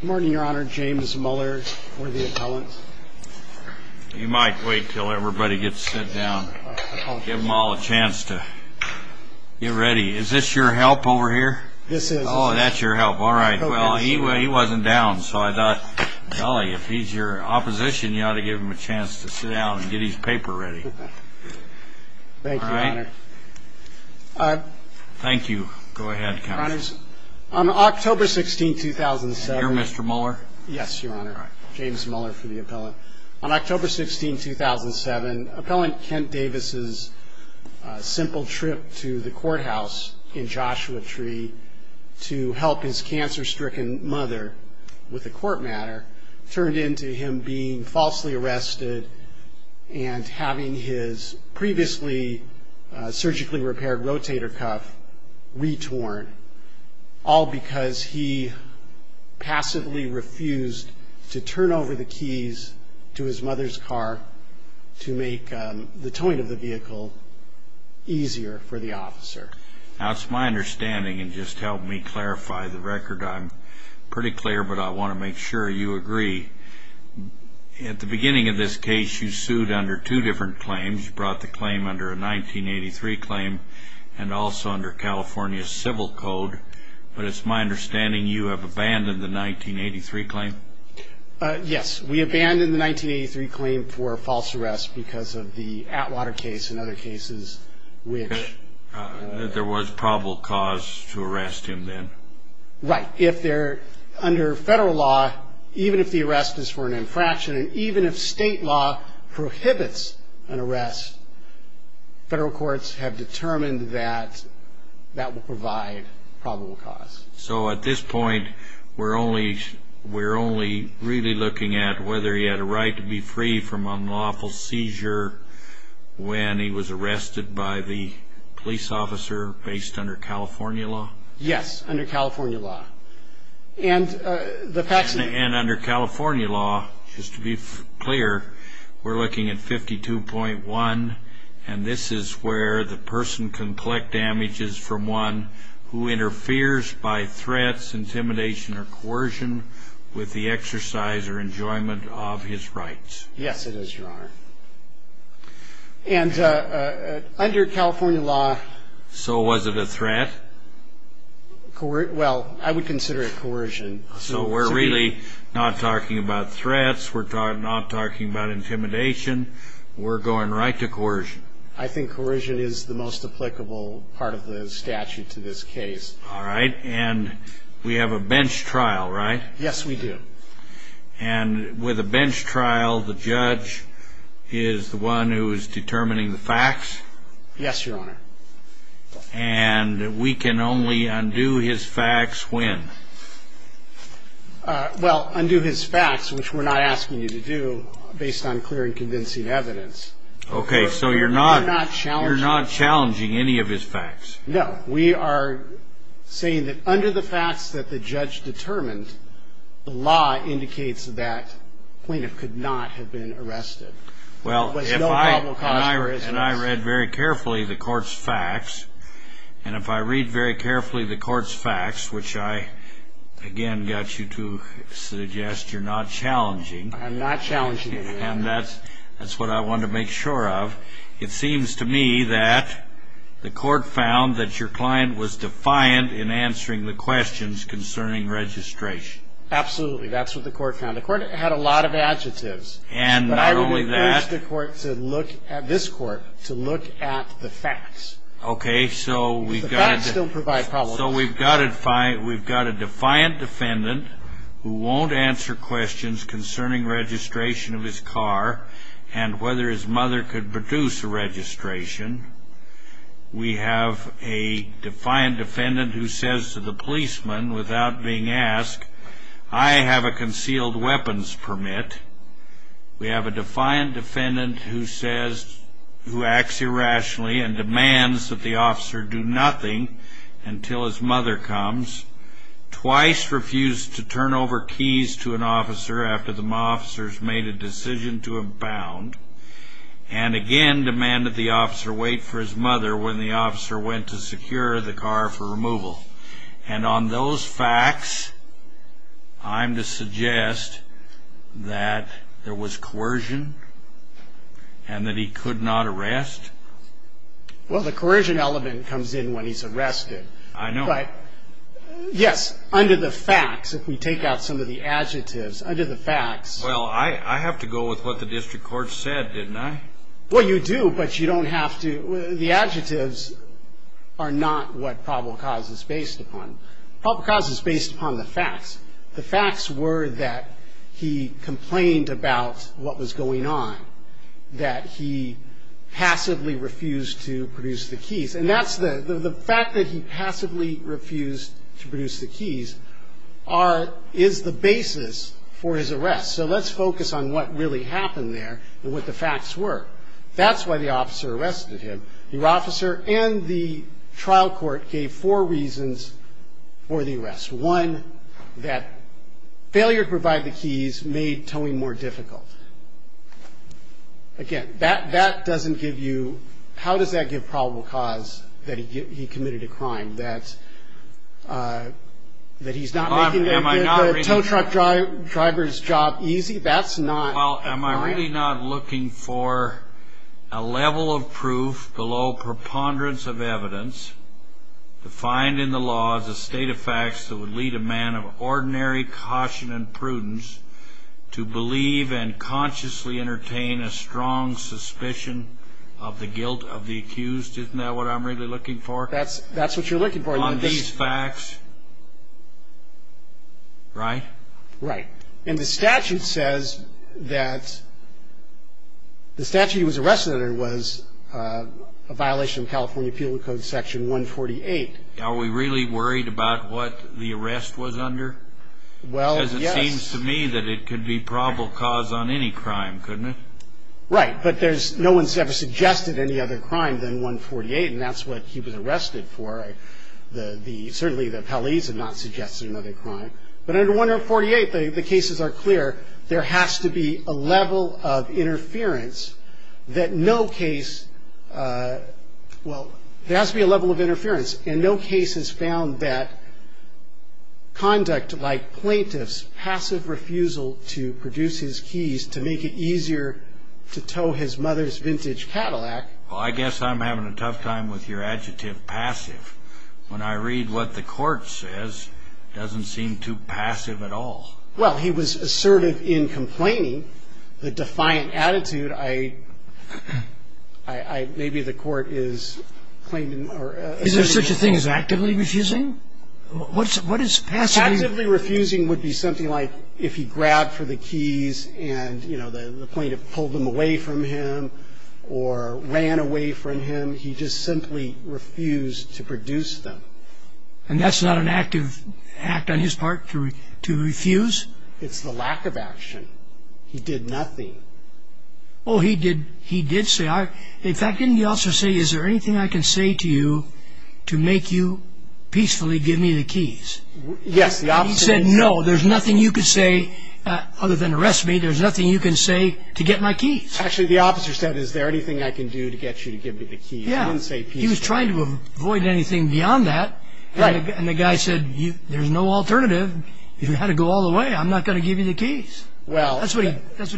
Good morning, Your Honor. James Muller for the appellant. You might wait until everybody gets sit down. Give them all a chance to get ready. Is this your help over here? This is. Oh, that's your help. All right. Well, he wasn't down, so I thought, golly, if he's your opposition, you ought to give him a chance to sit down and get his paper ready. Thank you. Go ahead, counsel. Your Honors, on October 16, 2007. And you're Mr. Muller? Yes, Your Honor. All right. James Muller for the appellant. On October 16, 2007, appellant Kent Davis's simple trip to the courthouse in Joshua Tree to help his cancer-stricken mother with a court matter turned into him being falsely arrested and having his previously surgically repaired rotator cuff retorn, all because he passively refused to turn over the keys to his mother's car to make the towing of the vehicle easier for the officer. Now, it's my understanding, and just help me clarify the record, I'm pretty clear, but I want to make sure you agree. At the beginning of this case, you sued under two different claims. You brought the claim under a 1983 claim and also under California civil code. But it's my understanding you have abandoned the 1983 claim. Yes. We abandoned the 1983 claim for false arrest because of the Atwater case and other cases which ---- There was probable cause to arrest him then. Right. If they're under federal law, even if the arrest is for an infraction and even if state law prohibits an arrest, federal courts have determined that that will provide probable cause. So at this point, we're only really looking at whether he had a right to be free from unlawful seizure when he was arrested by the police officer based under California law? Yes, under California law. And under California law, just to be clear, we're looking at 52.1, and this is where the person can collect damages from one who interferes by threats, intimidation, or coercion with the exercise or enjoyment of his rights. Yes, it is, Your Honor. And under California law ---- So was it a threat? Well, I would consider it coercion. So we're really not talking about threats. We're not talking about intimidation. We're going right to coercion. I think coercion is the most applicable part of the statute to this case. All right. And we have a bench trial, right? Yes, we do. And with a bench trial, the judge is the one who is determining the facts? Yes, Your Honor. And we can only undo his facts when? Well, undo his facts, which we're not asking you to do, based on clear and convincing evidence. Okay. So you're not challenging any of his facts? No. We are saying that under the facts that the judge determined, the law indicates that the plaintiff could not have been arrested. Well, if I read very carefully the court's facts, and if I read very carefully the court's facts, which I again got you to suggest you're not challenging. I'm not challenging any of them. And that's what I want to make sure of. It seems to me that the court found that your client was defiant in answering the questions concerning registration. Absolutely. That's what the court found. The court had a lot of adjectives. And not only that. But I would encourage this court to look at the facts. Okay, so we've got a defiant defendant who won't answer questions concerning registration of his car and whether his mother could produce a registration. We have a defiant defendant who says to the policeman, without being asked, I have a concealed weapons permit. We have a defiant defendant who says, who acts irrationally and demands that the officer do nothing until his mother comes. Twice refused to turn over keys to an officer after the officers made a decision to abound. And again demanded the officer wait for his mother when the officer went to secure the car for removal. And on those facts, I'm to suggest that there was coercion and that he could not arrest. Well, the coercion element comes in when he's arrested. I know. But yes, under the facts, if we take out some of the adjectives, under the facts. Well, I have to go with what the district court said, didn't I? Well, you do, but you don't have to. The adjectives are not what probable cause is based upon. Probable cause is based upon the facts. The facts were that he complained about what was going on, that he passively refused to produce the keys. And that's the fact that he passively refused to produce the keys is the basis for his arrest. So let's focus on what really happened there and what the facts were. That's why the officer arrested him. Your officer and the trial court gave four reasons for the arrest. One, that failure to provide the keys made towing more difficult. Again, that doesn't give you how does that give probable cause that he committed a crime, that he's not making the tow truck driver's job easy? That's not. Well, am I really not looking for a level of proof below preponderance of evidence defined in the law as a state of facts that would lead a man of ordinary caution and prudence to believe and consciously entertain a strong suspicion of the guilt of the accused? Isn't that what I'm really looking for? That's what you're looking for. On these facts, right? Right. And the statute says that the statute he was arrested under was a violation of California Appeal Code Section 148. Are we really worried about what the arrest was under? Well, yes. Because it seems to me that it could be probable cause on any crime, couldn't it? Right. But no one's ever suggested any other crime than 148, and that's what he was arrested for. Certainly the appellees have not suggested another crime. But under 148, the cases are clear. There has to be a level of interference that no case ñ well, there has to be a level of interference. And no case has found that conduct like plaintiff's passive refusal to produce his keys to make it easier to tow his mother's vintage Cadillac. Well, I guess I'm having a tough time with your adjective, passive. When I read what the court says, it doesn't seem too passive at all. Well, he was assertive in complaining. The defiant attitude, I ñ maybe the court is claiming ñ Is there such a thing as actively refusing? What is passive? Actively refusing would be something like if he grabbed for the keys and, you know, the plaintiff pulled them away from him or ran away from him. He just simply refused to produce them. And that's not an active act on his part, to refuse? It's the lack of action. He did nothing. Well, he did say, in fact, didn't the officer say, is there anything I can say to you to make you peacefully give me the keys? Yes, the officer... He said, no, there's nothing you can say other than arrest me. There's nothing you can say to get my keys. Actually, the officer said, is there anything I can do to get you to give me the keys? He didn't say peacefully. He was trying to avoid anything beyond that. Right. And the guy said, there's no alternative. If you had to go all the way, I'm not going to give you the keys. Well... That's what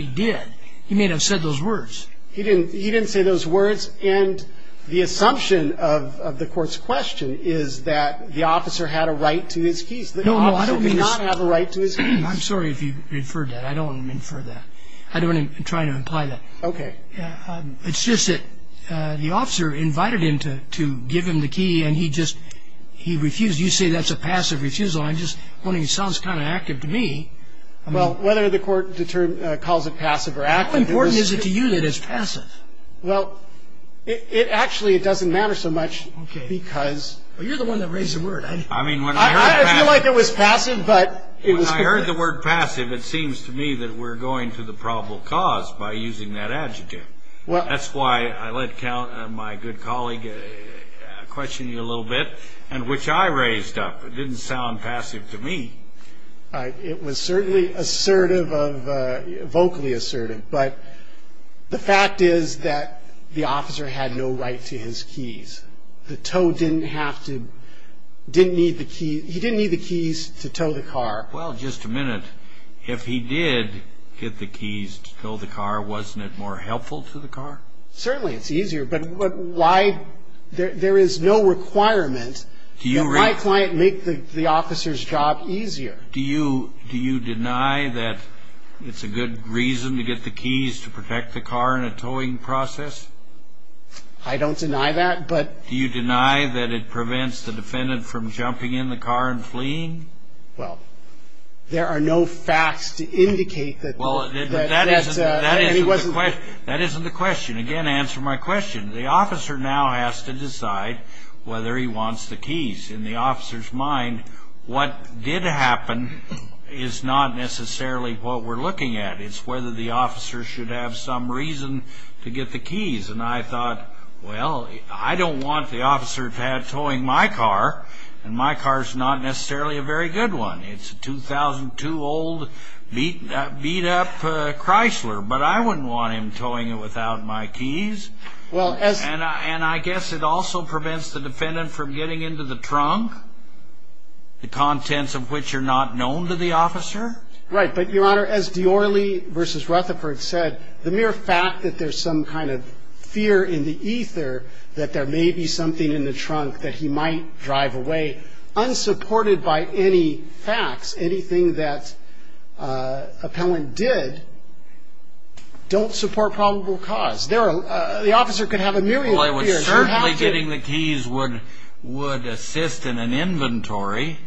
he did. He may not have said those words. He didn't say those words. And the assumption of the court's question is that the officer had a right to his keys. No, no, I don't mean... The officer did not have a right to his keys. I'm sorry if you inferred that. I don't infer that. I don't try to imply that. Okay. It's just that the officer invited him to give him the key, and he just refused. You say that's a passive refusal. I'm just wondering. It sounds kind of active to me. Well, whether the court calls it passive or active... How important is it to you that it's passive? Well, it actually doesn't matter so much because... Okay. Well, you're the one that raised the word. I mean, when I heard... I feel like it was passive, but it was... When I heard the word passive, it seems to me that we're going to the probable cause by using that adjective. That's why I let my good colleague question you a little bit, which I raised up. It didn't sound passive to me. It was certainly assertive, vocally assertive. But the fact is that the officer had no right to his keys. The tow didn't have to... He didn't need the keys to tow the car. Well, just a minute. If he did get the keys to tow the car, wasn't it more helpful to the car? Certainly it's easier, but why... There is no requirement that my client make the officer's job easier. Do you deny that it's a good reason to get the keys to protect the car in a towing process? I don't deny that, but... Do you deny that it prevents the defendant from jumping in the car and fleeing? Well, there are no facts to indicate that... Well, that isn't the question. Again, answer my question. The officer now has to decide whether he wants the keys. In the officer's mind, what did happen is not necessarily what we're looking at. It's whether the officer should have some reason to get the keys. And I thought, well, I don't want the officer to have towing my car, and my car's not necessarily a very good one. It's a 2002 old beat-up Chrysler, but I wouldn't want him towing it without my keys. And I guess it also prevents the defendant from getting into the trunk, the contents of which are not known to the officer. Right, but, Your Honor, as Diorre versus Rutherford said, the mere fact that there's some kind of fear in the ether that there may be something in the trunk that he might drive away, unsupported by any facts, anything that appellant did, don't support probable cause. The officer could have a million fears. Well, I was certainly getting the keys would assist in an inventory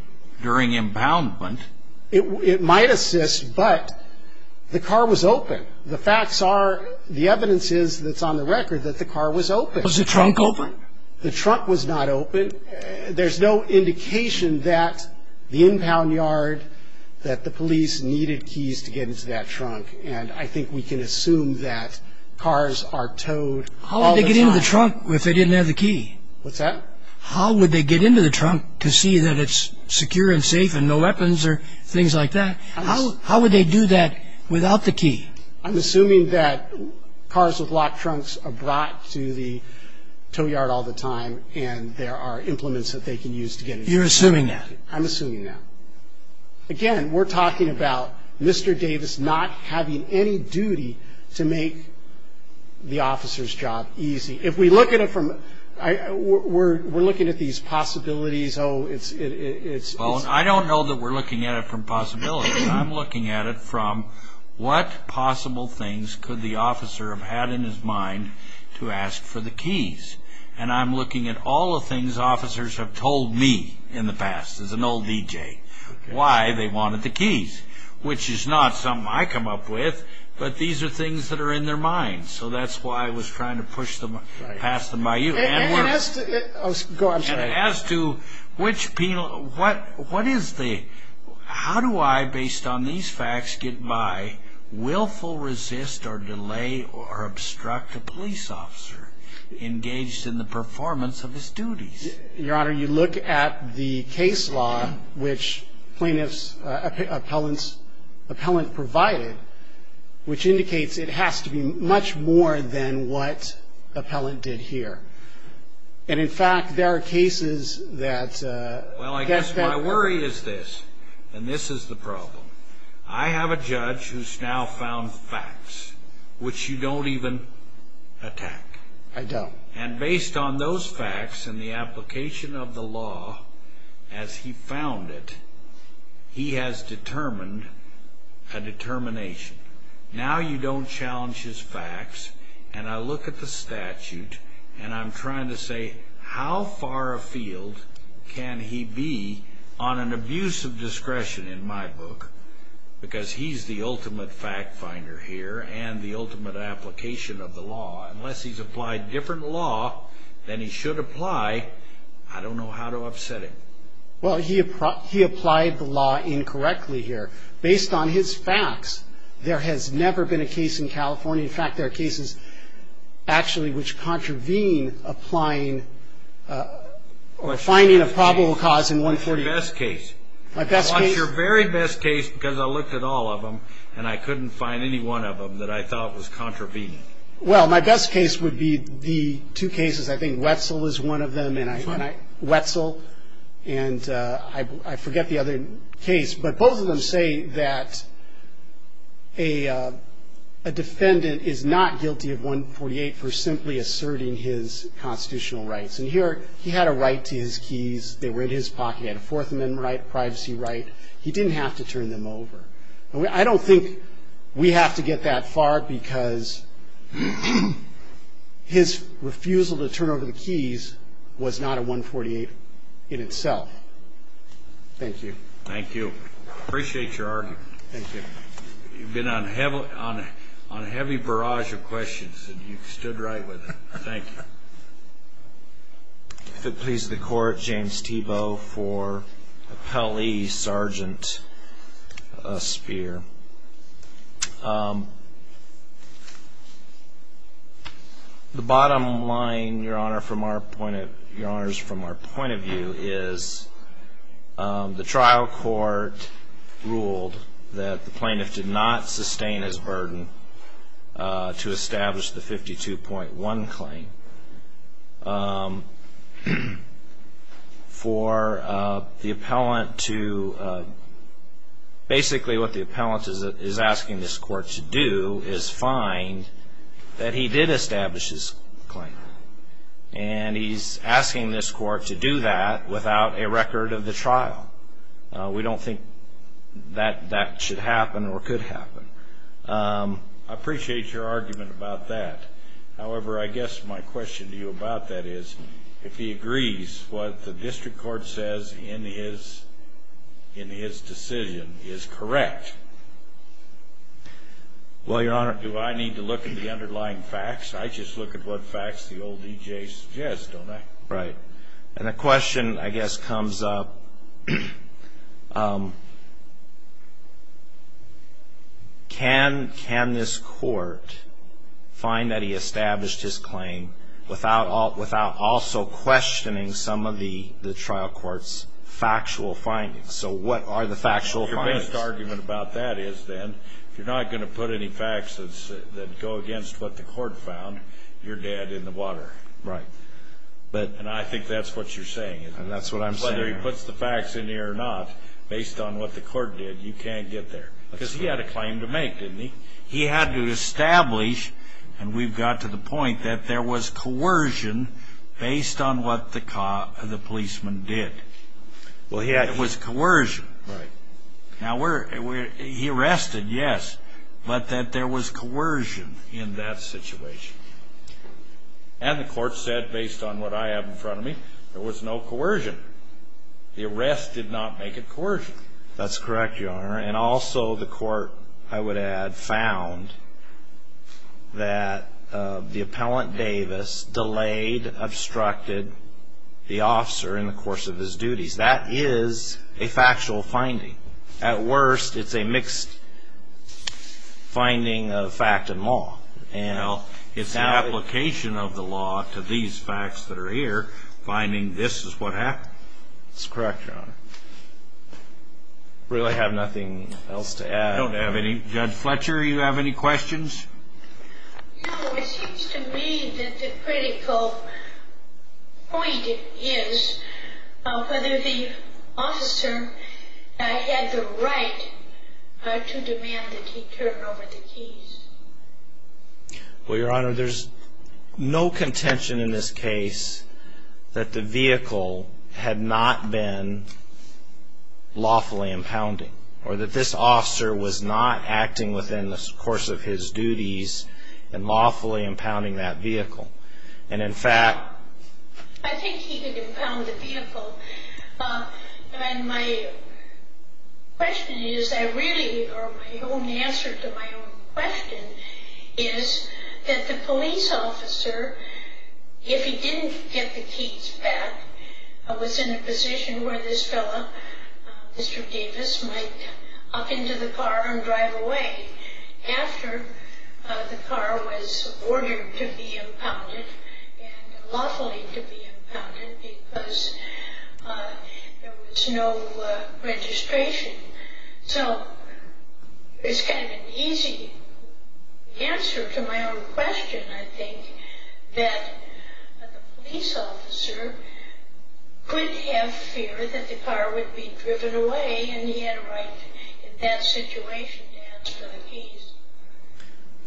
during impoundment. It might assist, but the car was open. The facts are, the evidence is that's on the record that the car was open. Was the trunk open? The trunk was not open. There's no indication that the impound yard, that the police needed keys to get into that trunk. And I think we can assume that cars are towed all the time. How would they get into the trunk if they didn't have the key? What's that? How would they get into the trunk to see that it's secure and safe and no weapons or things like that? How would they do that without the key? I'm assuming that cars with locked trunks are brought to the tow yard all the time and there are implements that they can use to get inside. You're assuming that? I'm assuming that. Again, we're talking about Mr. Davis not having any duty to make the officer's job easy. We're looking at these possibilities. I don't know that we're looking at it from possibilities. I'm looking at it from what possible things could the officer have had in his mind to ask for the keys. And I'm looking at all the things officers have told me in the past as an old DJ, why they wanted the keys, which is not something I come up with, but these are things that are in their minds. So that's why I was trying to pass them by you. And as to which penal, what is the, how do I, based on these facts, get my willful resist or delay or obstruct a police officer engaged in the performance of his duties? Your Honor, you look at the case law, which plaintiff's appellant provided, which indicates it has to be much more than what appellant did here. And, in fact, there are cases that get that. Well, I guess my worry is this, and this is the problem. I have a judge who's now found facts, which you don't even attack. I don't. And based on those facts and the application of the law as he found it, he has determined a determination. Now you don't challenge his facts, and I look at the statute, and I'm trying to say, how far afield can he be on an abuse of discretion in my book? Because he's the ultimate fact finder here and the ultimate application of the law. Unless he's applied different law than he should apply, I don't know how to upset him. Well, he applied the law incorrectly here. Based on his facts, there has never been a case in California. In fact, there are cases actually which contravene applying or finding a probable cause in 140. What's your best case? My best case? What's your very best case, because I looked at all of them, and I couldn't find any one of them that I thought was contravening? Well, my best case would be the two cases. I think Wetzel is one of them. Wetzel, and I forget the other case, but both of them say that a defendant is not guilty of 148 for simply asserting his constitutional rights. And here he had a right to his keys. They were in his pocket. He had a Fourth Amendment right, a privacy right. He didn't have to turn them over. I don't think we have to get that far because his refusal to turn over the keys was not a 148 in itself. Thank you. Thank you. Appreciate your argument. Thank you. You've been on a heavy barrage of questions, and you stood right with it. Thank you. If it pleases the Court, James Thiebaud for Appellee Sergeant Speer. The bottom line, Your Honor, from our point of view is the trial court ruled that the plaintiff did not sustain his burden to establish the 52.1 claim. For the appellant to basically what the appellant is asking this court to do is find that he did establish his claim. And he's asking this court to do that without a record of the trial. We don't think that that should happen or could happen. I appreciate your argument about that. However, I guess my question to you about that is if he agrees what the district court says in his decision is correct. Well, Your Honor, do I need to look at the underlying facts? I just look at what facts the old EJ suggests, don't I? Right. And the question, I guess, comes up, can this court find that he established his claim without also questioning some of the trial court's factual findings? So what are the factual findings? Your best argument about that is then if you're not going to put any facts that go against what the court found, you're dead in the water. Right. And I think that's what you're saying, isn't it? And that's what I'm saying. Whether he puts the facts in here or not, based on what the court did, you can't get there. Because he had a claim to make, didn't he? He had to establish, and we've got to the point that there was coercion based on what the policeman did. It was coercion. Right. Now, he arrested, yes, but that there was coercion in that situation. And the court said, based on what I have in front of me, there was no coercion. The arrest did not make it coercion. That's correct, Your Honor. And also the court, I would add, found that the appellant Davis delayed, obstructed the officer in the course of his duties. That is a factual finding. At worst, it's a mixed finding of fact and law. It's an application of the law to these facts that are here, finding this is what happened. That's correct, Your Honor. I really have nothing else to add. I don't have any. Judge Fletcher, do you have any questions? No. It seems to me that the critical point is whether the officer had the right to demand that he turn over the keys. Well, Your Honor, there's no contention in this case that the vehicle had not been lawfully impounding or that this officer was not acting within the course of his duties in lawfully impounding that vehicle. And, in fact, I think he did impound the vehicle. And my question is, or my own answer to my own question, is that the police officer, if he didn't get the keys back, was in a position where this fellow, Mr. Davis, might hop into the car and drive away after the car was ordered to be impounded and lawfully to be impounded because there was no registration. So it's kind of an easy answer to my own question, I think, that the police officer could have fear that the car would be driven away and he had a right in that situation to ask for the keys.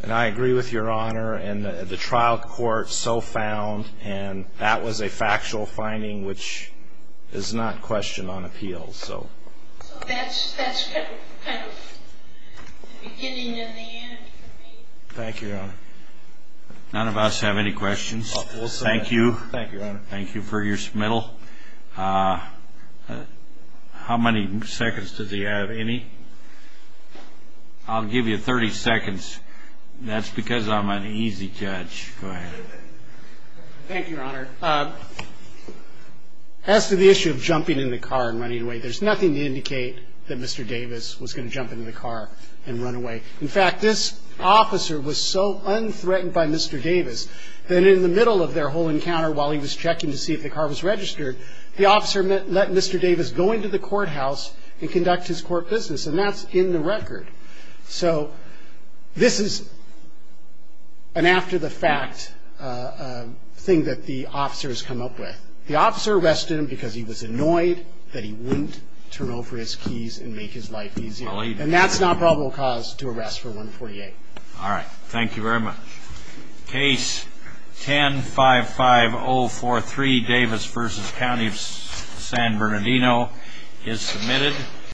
And I agree with Your Honor. And the trial court so found. And that was a factual finding, which is not questioned on appeal. So that's kind of the beginning and the end for me. Thank you, Your Honor. None of us have any questions. Thank you. Thank you, Your Honor. Thank you for your submittal. How many seconds does he have? Any? I'll give you 30 seconds. That's because I'm an easy judge. Go ahead. Thank you, Your Honor. As to the issue of jumping in the car and running away, there's nothing to indicate that Mr. Davis was going to jump into the car and run away. In fact, this officer was so unthreatened by Mr. Davis that in the middle of their whole encounter while he was checking to see if the car was registered, the officer let Mr. Davis go into the courthouse and conduct his court business. And that's in the record. So this is an after-the-fact thing that the officers come up with. The officer arrested him because he was annoyed that he wouldn't turn over his keys and make his life easier. And that's not probable cause to arrest for 148. All right. Thank you very much. Case 10-55043, Davis v. County of San Bernardino, is submitted.